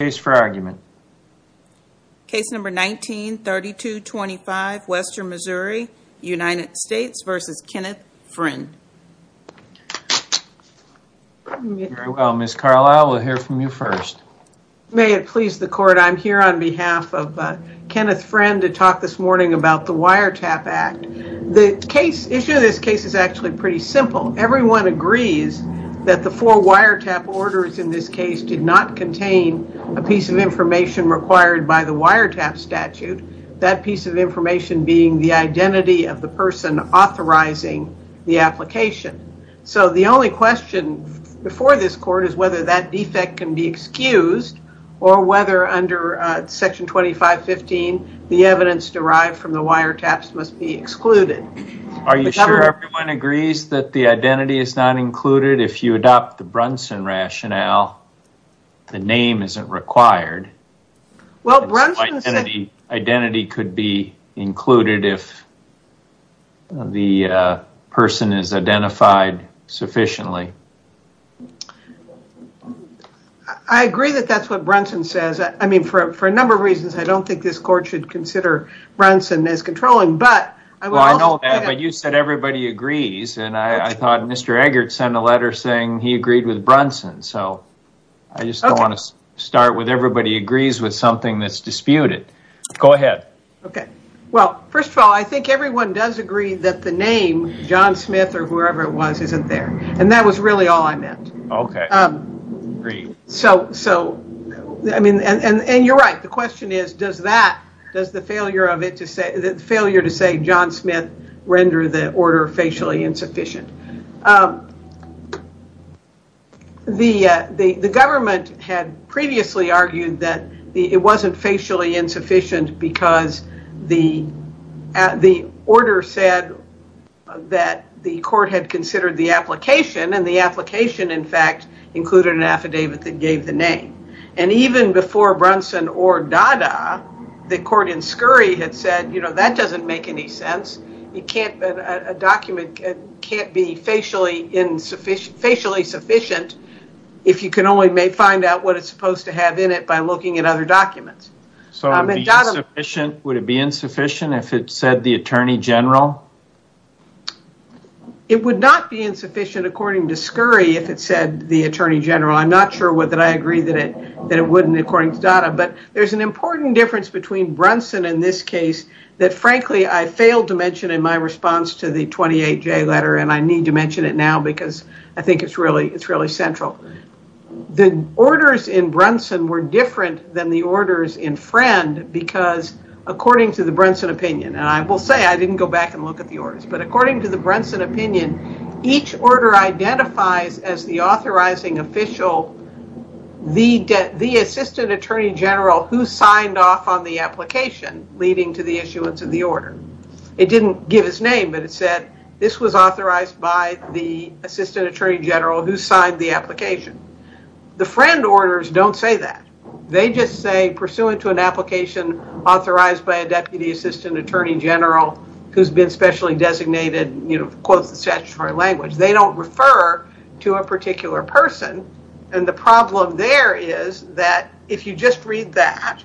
Case for argument. Case number 19-3225, Western Missouri, United States v. Kenneth Friend. Very well, Ms. Carlisle, we'll hear from you first. May it please the court, I'm here on behalf of Kenneth Friend to talk this morning about the Wiretap Act. The issue of this case is actually pretty simple. Everyone agrees that the four wiretap orders in this case did not contain a piece of information required by the wiretap statute. That piece of information being the identity of the person authorizing the application. So the only question before this court is whether that defect can be excused or whether under section 2515 the evidence derived from the wiretaps must be excluded. Are you sure everyone agrees that the identity is not included? If you adopt the Brunson rationale, the name isn't required. Identity could be included if the person is identified sufficiently. I agree that that's what Brunson says. I mean, for a number of reasons I don't think this court should consider Brunson as controlling. I know that, but you said everybody agrees. I thought Mr. Eggert sent a letter saying he agreed with Brunson. I just don't want to start with everybody agrees with something that's disputed. Go ahead. First of all, I think everyone does agree that the name John Smith or whoever it was that does the failure to say John Smith render the order facially insufficient. The government had previously argued that it wasn't facially insufficient because the order said that the court had considered the application and the application, in fact, included an affidavit that gave the name. Even before Brunson or Dada, the court in Scurry had said that doesn't make any sense. A document can't be facially insufficient if you can only find out what it's supposed to have in it by looking at other documents. Would it be insufficient if it said the Attorney General? It would not be insufficient according to Scurry if it said the Attorney General. I'm not sure whether I agree that it wouldn't according to Dada, but there's an important difference between Brunson in this case that frankly I failed to mention in my response to the 28J letter, and I need to mention it now because I think it's really central. The orders in Brunson were different than the orders in Friend because according to the Brunson opinion, and I will say I didn't go back and look at the orders, but according to the Brunson opinion, each order identifies as the authorizing official the Assistant Attorney General who signed off on the application leading to the issuance of the order. It didn't give his name, but it said this was authorized by the Assistant Attorney General who signed the application. The Friend orders don't say that. They just say pursuant to an application authorized by a Deputy Assistant Attorney General who's been specially designated, quotes the statutory language. They don't refer to a particular person, and the problem there is that if you just read that,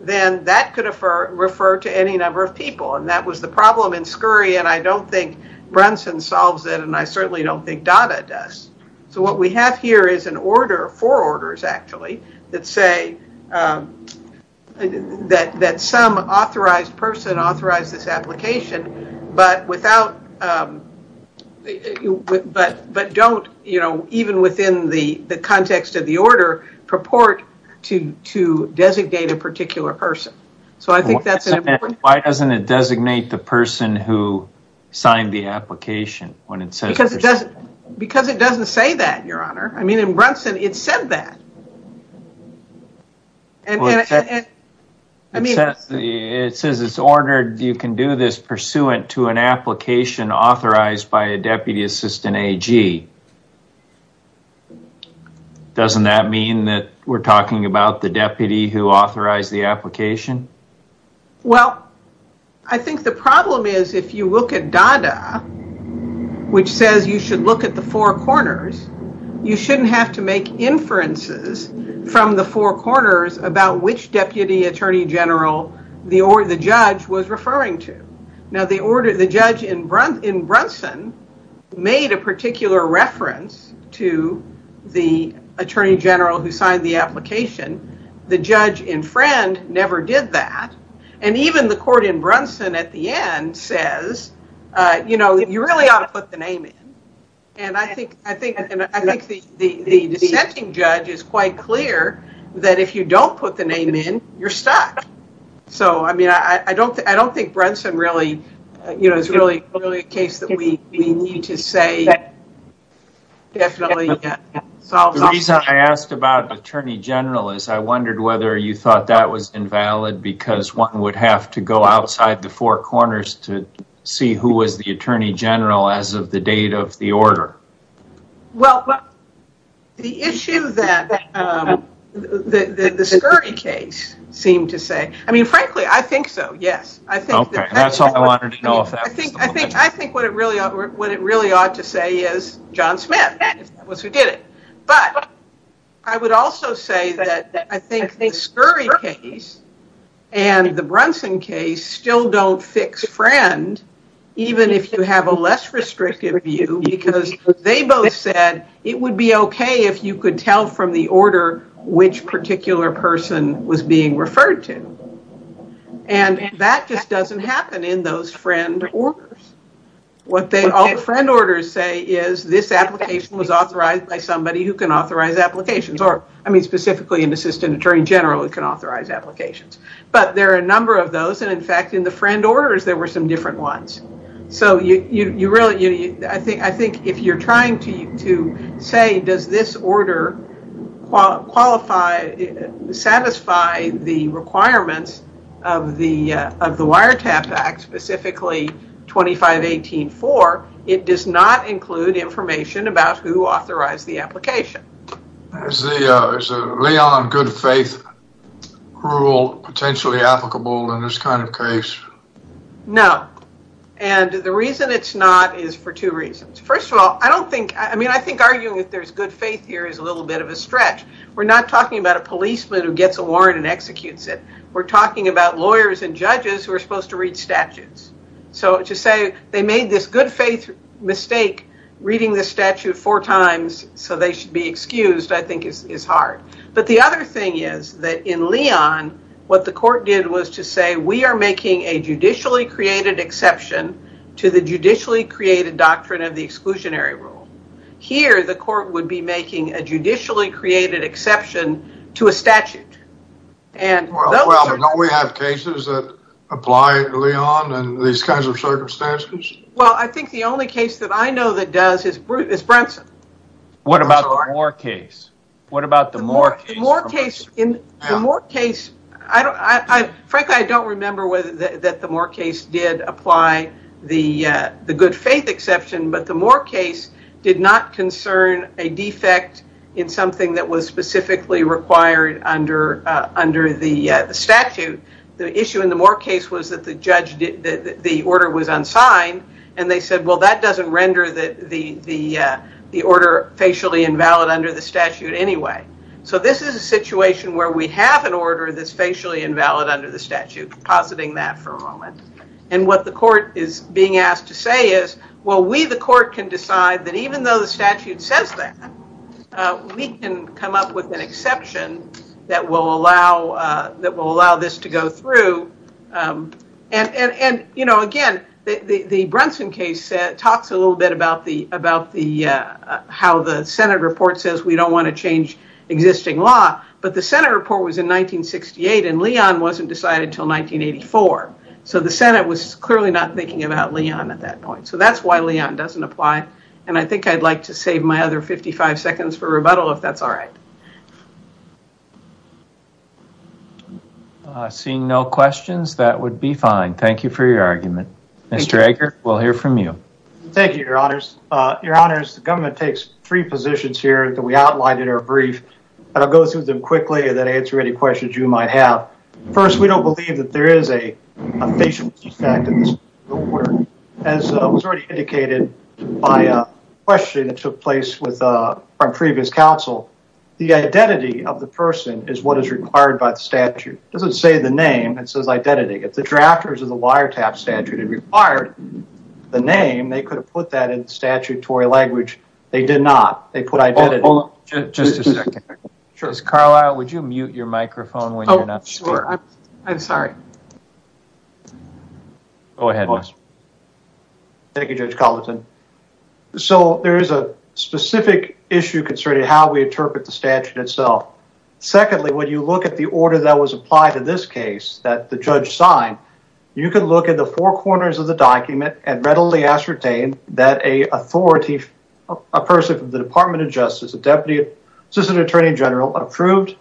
then that could refer to any number of people, and that was the problem in Scurry, and I don't think Brunson solves it and I certainly don't think Dada does. So what we have here is an order, four orders actually that say that some authorized person authorized this application, but don't, even within the context of the order, purport to designate a particular person. So I think that's an important point. Why doesn't it designate the person who signed the application when it says pursuant? Because it doesn't say that, Your Honor. In fact, it says it's ordered you can do this pursuant to an application authorized by a Deputy Assistant AG. Doesn't that mean that we're talking about the deputy who authorized the application? Well, I think the problem is if you look at the four corners, you shouldn't have to make inferences from the four corners about which Deputy Attorney General the judge was referring to. Now, the judge in Brunson made a particular reference to the Attorney General who signed the application. The judge in Friend never did that, and even the court in Brunson at the end says, you know, you really ought to put the name in. And I think the dissenting judge is quite clear that if you don't put the name in, you're stuck. So, I mean, I don't think Brunson really, you know, it's really a case that we need to say definitely. The reason I asked about Attorney General is I wondered whether you thought that was invalid because one would have to go outside the four corners to see who was the Attorney General as of the date of the order. Well, the issue that the Scurry case seemed to say, I mean, frankly, I think so, yes. I think what it really ought to say is John Smith. But I would also say that I think the Scurry case and the Brunson case still don't fix Friend, even if you have a less restrictive view, because they both said it would be okay if you could tell from the order which particular person was being referred to. And that just doesn't happen in those Friend orders. What all the Friend orders say is this application was authorized by somebody who can authorize applications, or I mean, specifically an Assistant Attorney General who can authorize applications. But there are a number of those. And in fact, in the Friend orders, there were some different ones. So you really, I think if you're trying to say, does this order qualify, satisfy the requirements of the Wiretap Act, specifically 2518.4, it does not include information about who authorized the application. Is the Leon good faith rule potentially applicable in this kind of case? No. And the reason it's not is for two reasons. First of all, I don't think, I mean, I think arguing that there's good faith here is a little bit of a stretch. We're not talking about a policeman who gets a warrant and executes it. We're talking about lawyers and judges who are supposed to read statutes. So to say they made this good faith mistake reading the statute four times so they should be excused, I think is hard. But the other thing is that in Leon, what the court did was to say, we are making a judicially created exception to the judicially created doctrine of the exclusionary rule. Here, the court would be making a judicially created exception to a statute. Well, don't we have cases that apply to Leon and these kinds of circumstances? Well, I think the only case that I know that does is Brunson. What about the Moore case? What about the Moore case? In the Moore case, I frankly, I don't remember whether that the Moore case did apply the good faith exception, but the Moore case did not concern a defect in something that was specifically required under the statute. The issue in the Moore case was that the order was unsigned and they said, well, that doesn't render the order facially invalid under the statute anyway. So this is a situation where we have an order that's facially invalid under the statute, positing that for a moment. And what the court is being asked to say is, well, we the court can decide that even though the statute says that, we can come up with an exception that will allow this to go through. And again, the Brunson case talks a little bit about how the Senate report says we don't want to change existing law, but the Senate report was in 1968 and Leon wasn't decided until 1984. So the Senate was clearly not thinking about Leon at that point. So that's why Leon doesn't apply. And I think I'd like to save my other 55 seconds for rebuttal if that's all right. Seeing no questions, that would be fine. Thank you for your argument. Mr. Eggert, we'll hear from you. Thank you, your honors. Your honors, the government takes three positions here that we outlined in our brief, and I'll go through them quickly and then answer any questions you might have. First, we don't believe that there is a facial identification effect in this court. As was already indicated by a question that took place with our previous counsel, the identity of the person is what is required by the statute. It doesn't say the name. It says identity. If the drafters of the wiretap statute had required the name, they could have put that in the statutory language. They did not. They put identity. Just a second. Ms. Carlisle, would you mute your microphone? Oh, sure. I'm sorry. Go ahead. Thank you, Judge Colleton. So there is a specific issue concerning how we interpret the statute itself. Secondly, when you look at the order that was applied in this case that the judge signed, you can look at the four corners of the document and readily ascertain that a person from the Department of Justice, a deputy assistant attorney general, approved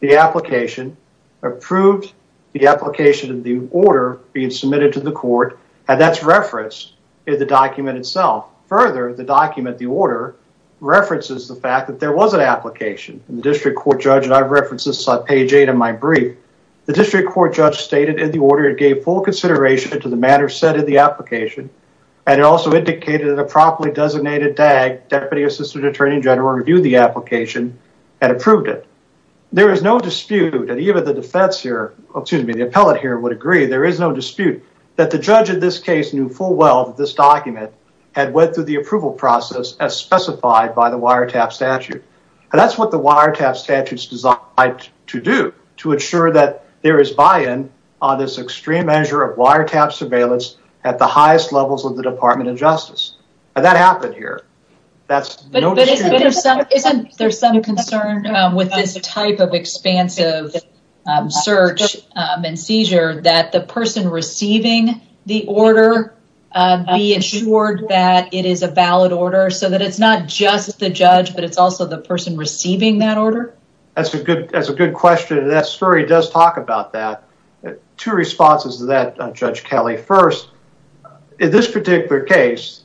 the application, approved the application of the order being submitted to the court, and that's referenced in the document itself. Further, the document, the order, references the fact that there was an application. The district court judge, and I've referenced this on page 8 of my brief, the district court judge stated in the order it gave full consideration to the matter set in the application and it also indicated that a properly designated DAG, deputy assistant attorney general, reviewed the application and approved it. There is no dispute, and even the defense here, excuse me, the appellate here would agree, there is no dispute that the judge in this case knew full well that this document had went through the approval process as specified by the wiretap statute. That's what the wiretap statute is designed to do, to ensure that there is buy-in on this extreme measure of wiretap surveillance at the highest levels of the Department of Justice. And that happened here. But isn't there some concern with this type of expansive search and seizure that the person receiving the order be ensured that it is a valid order so that it's not just the judge but it's also the person receiving that order? That's a good question. That story does talk about that. Two responses to that, Judge Kelly. First, in this particular case,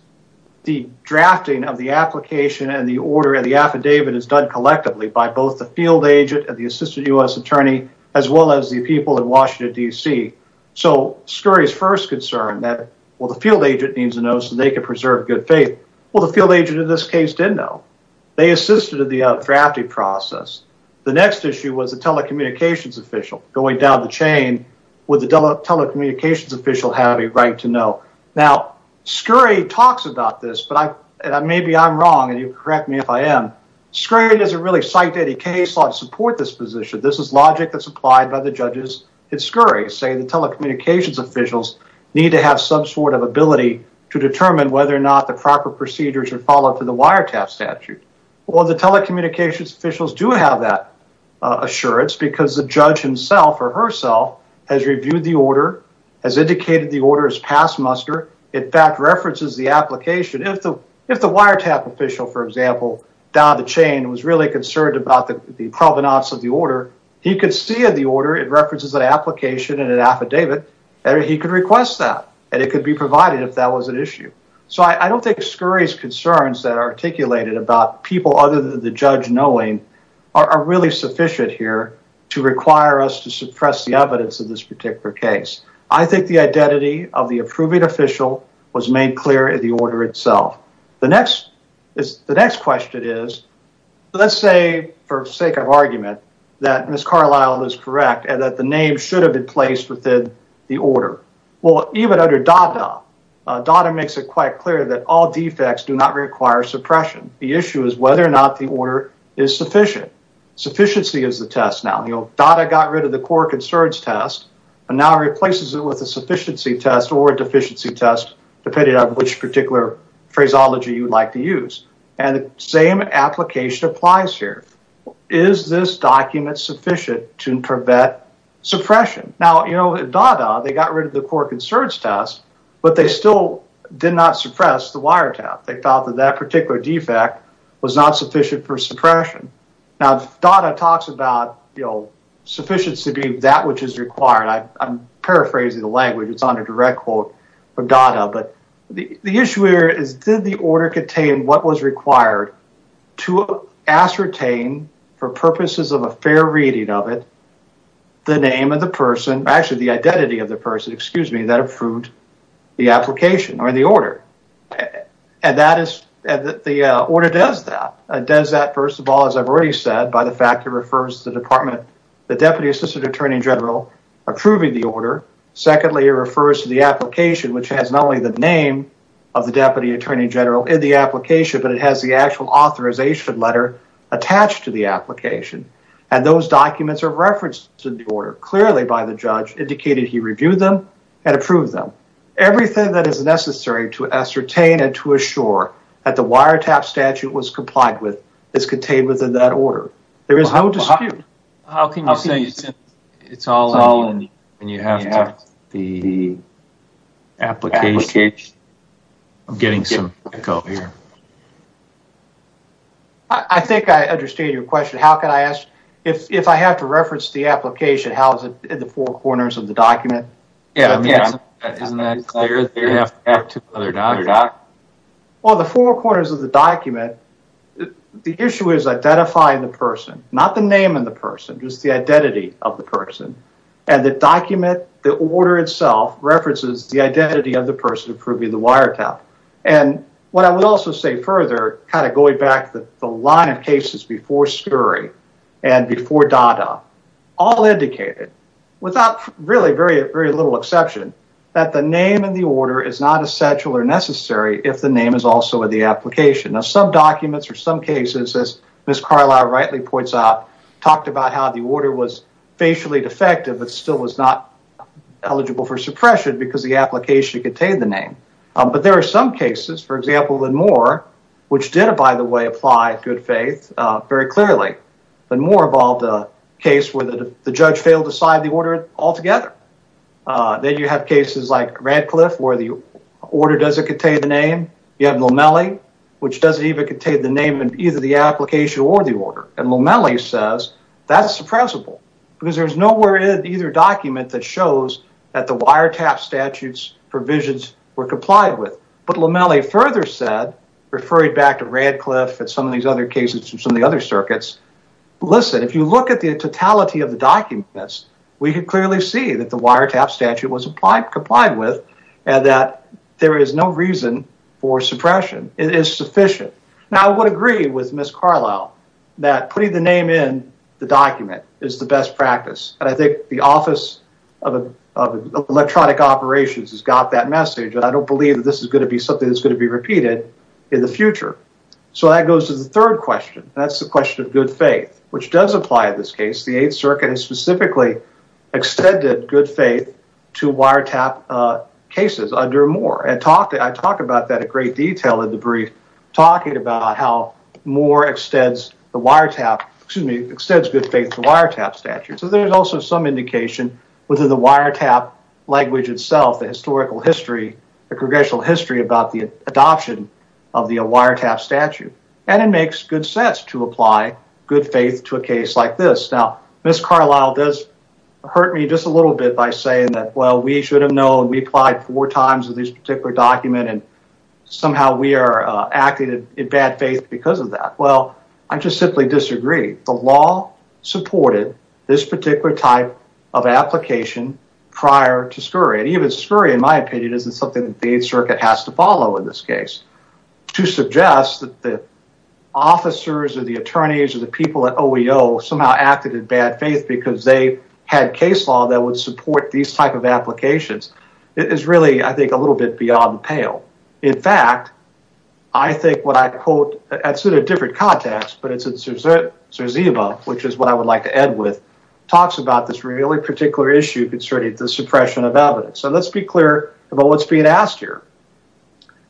the drafting of the application and the order and the affidavit is done collectively by both the field agent and the assistant U.S. attorney as well as the people in Washington, D.C. So Scurry's first concern that, well, the field agent needs to know so they can preserve good faith. Well, the field agent in this case did know. They assisted in the drafting process. The next issue was the telecommunications official going down the chain. Would the telecommunications official have a right to know? Now, Scurry talks about this, but maybe I'm wrong, and you can correct me if I am. Scurry doesn't really cite any case law to support this position. This is logic that's applied by the judges at Scurry, saying the telecommunications officials need to have some sort of ability to determine whether or not the proper procedure should follow through the wiretap statute. Well, the telecommunications officials do have that assurance because the judge himself or herself has reviewed the order, has indicated the order as past muster, in fact references the application. If the wiretap official, for example, down the chain was really concerned about the provenance of the order, he could see in the order it references an application and an affidavit, and he could request that, and it could be provided if that was an issue. So I don't think Scurry's concerns that are articulated about people other than the judge knowing are really sufficient here to require us to suppress the evidence of this particular case. I think the identity of the approving official was made clear in the order itself. The next question is, let's say, for sake of argument, that Ms. Carlisle is correct and that the name should have been placed within the order. Well, even under DOTA, DOTA makes it quite clear that all defects do not require suppression. The issue is whether or not the order is sufficient. Sufficiency is the test now. DOTA got rid of the core concerns test and now replaces it with a sufficiency test or a deficiency test, depending on which particular phraseology you'd like to use. And the same application applies here. Is this document sufficient to prevent suppression? Now, you know, DOTA, they got rid of the core concerns test, but they still did not suppress the wire tap. They thought that that particular defect was not sufficient for suppression. Now, DOTA talks about, you know, sufficiency being that which is required. I'm paraphrasing the language. It's on a direct quote for DOTA. But the issue here is, did the order contain what was required to ascertain, for purposes of a fair reading of it, the name of the person, actually the identity of the person, excuse me, that approved the application or the order? And that is, the order does that. It does that, first of all, as I've already said, by the fact that it refers to the Department, the Deputy Assistant Attorney General approving the order. Secondly, it refers to the application, which has not only the name of the Deputy Attorney General in the application, but it has the actual authorization letter attached to the application. And those documents are and approve them. Everything that is necessary to ascertain and to assure that the wire tap statute was complied with is contained within that order. There is no dispute. How can you say it's all in the application? I'm getting some echo here. I think I understand your question. How can I ask, if I have to reference the application, how is it in the four corners of the document? Yeah, isn't that clear? Well, the four corners of the document, the issue is identifying the person, not the name of the person, just the identity of the person. And the document, the order itself, references the identity of the person approving the wire tap. And what I would also say further, kind and before DADA, all indicated, without really very little exception, that the name in the order is not essential or necessary if the name is also in the application. Now, some documents or some cases, as Ms. Carlisle rightly points out, talked about how the order was facially defective, but still was not eligible for suppression because the application contained the name. But there are some cases, for example, in Moore, which did, by the way, apply good faith very clearly. But Moore involved a case where the judge failed to sign the order altogether. Then you have cases like Radcliffe, where the order doesn't contain the name. You have Lomelli, which doesn't even contain the name in either the application or the order. And Lomelli says that's suppressible, because there's nowhere in either document that shows that the wire tap statutes provisions were complied with. But Lomelli further said, referring back to Radcliffe and some of these other cases and some of the other circuits, listen, if you look at the totality of the documents, we can clearly see that the wire tap statute was complied with and that there is no reason for suppression. It is sufficient. Now, I would agree with Ms. Carlisle that putting the name in the document is the best practice. And I think the Office of Electronic Operations has got that message. And I don't believe that this is going to be something that's going to be repeated in the future. So that goes to the third question. That's the question of good faith, which does apply in this case. The 8th Circuit has specifically extended good faith to wire tap cases under Moore. And I talk about that in great detail in the brief, talking about how Moore extends the wire tap, excuse me, extends good faith to wire tap statutes. So there's also some language itself, the historical history, the congressional history about the adoption of the wire tap statute. And it makes good sense to apply good faith to a case like this. Now, Ms. Carlisle does hurt me just a little bit by saying that, well, we should have known, we applied four times to this particular document, and somehow we are acting in bad faith because of that. Well, I just simply disagree. The law supported this particular type of application prior to Scurry. And even Scurry, in my opinion, isn't something that the 8th Circuit has to follow in this case. To suggest that the officers or the attorneys or the people at OEO somehow acted in bad faith because they had case law that would support these type of applications is really, I think, a little bit beyond the pale. In fact, I think what I quote, it's in a different context, but it's what I would like to end with, talks about this really particular issue concerning the suppression of evidence. And let's be clear about what's being asked here.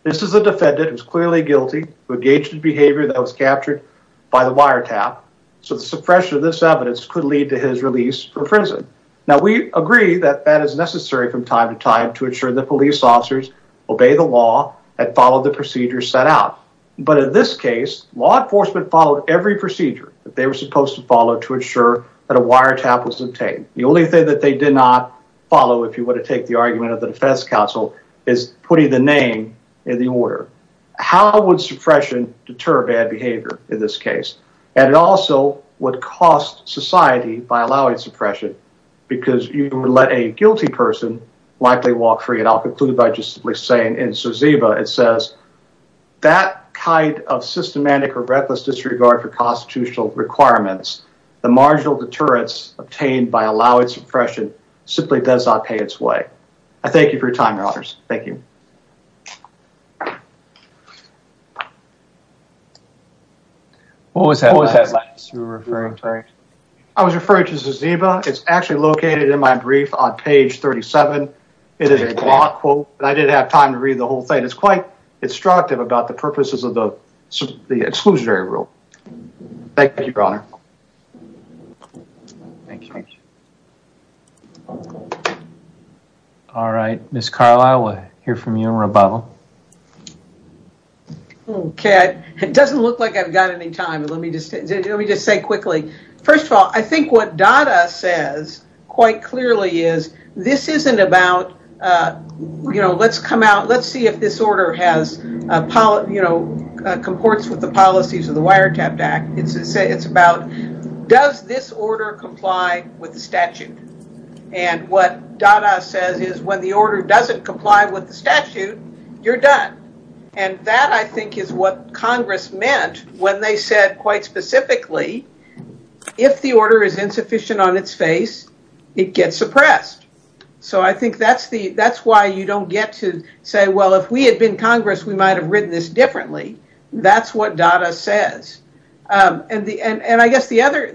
This is a defendant who is clearly guilty who engaged in behavior that was captured by the wire tap. So the suppression of this evidence could lead to his release from prison. Now, we agree that that is necessary from time to time to ensure that police officers obey the law and follow the procedures set out. But in this case, law enforcement followed every procedure that they were supposed to follow to ensure that a wire tap was obtained. The only thing that they did not follow, if you were to take the argument of the defense counsel, is putting the name in the order. How would suppression deter bad behavior in this case? And it also would cost society by allowing suppression because you would let a guilty person likely walk free. And I'll conclude by just saying in Zaziba, it says that kind of systematic or reckless disregard for constitutional requirements, the marginal deterrence obtained by allowing suppression simply does not pay its way. I thank you for your time, your honors. Thank you. What was that? I was referring to Zaziba. It's actually located in my brief on page 37. It is a broad quote. I didn't have time to read the whole thing. It's quite instructive about the purposes of the exclusionary rule. Thank you, your honor. Thank you. All right. Ms. Carlisle, we'll hear from you and Rebel. Okay. It doesn't look like I've got any time. Let me just say quickly, first of all, I think what Dada says quite clearly is this isn't about, let's come out, let's see if this order comports with the policies of the Wiretapped Act. It's about, does this order comply with the statute? And what Dada says is when the order doesn't comply with the statute, you're done. And that I think is what Congress meant when they said quite specifically, if the order is insufficient on its face, it gets suppressed. So, I think that's why you don't get to say, well, if we had been Congress, we might have written this differently. That's what Dada says. And I guess the other,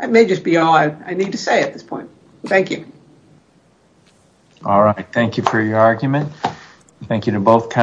that may just be all I need to say at this point. Thank you. All right. Thank you for your argument. Thank you to both.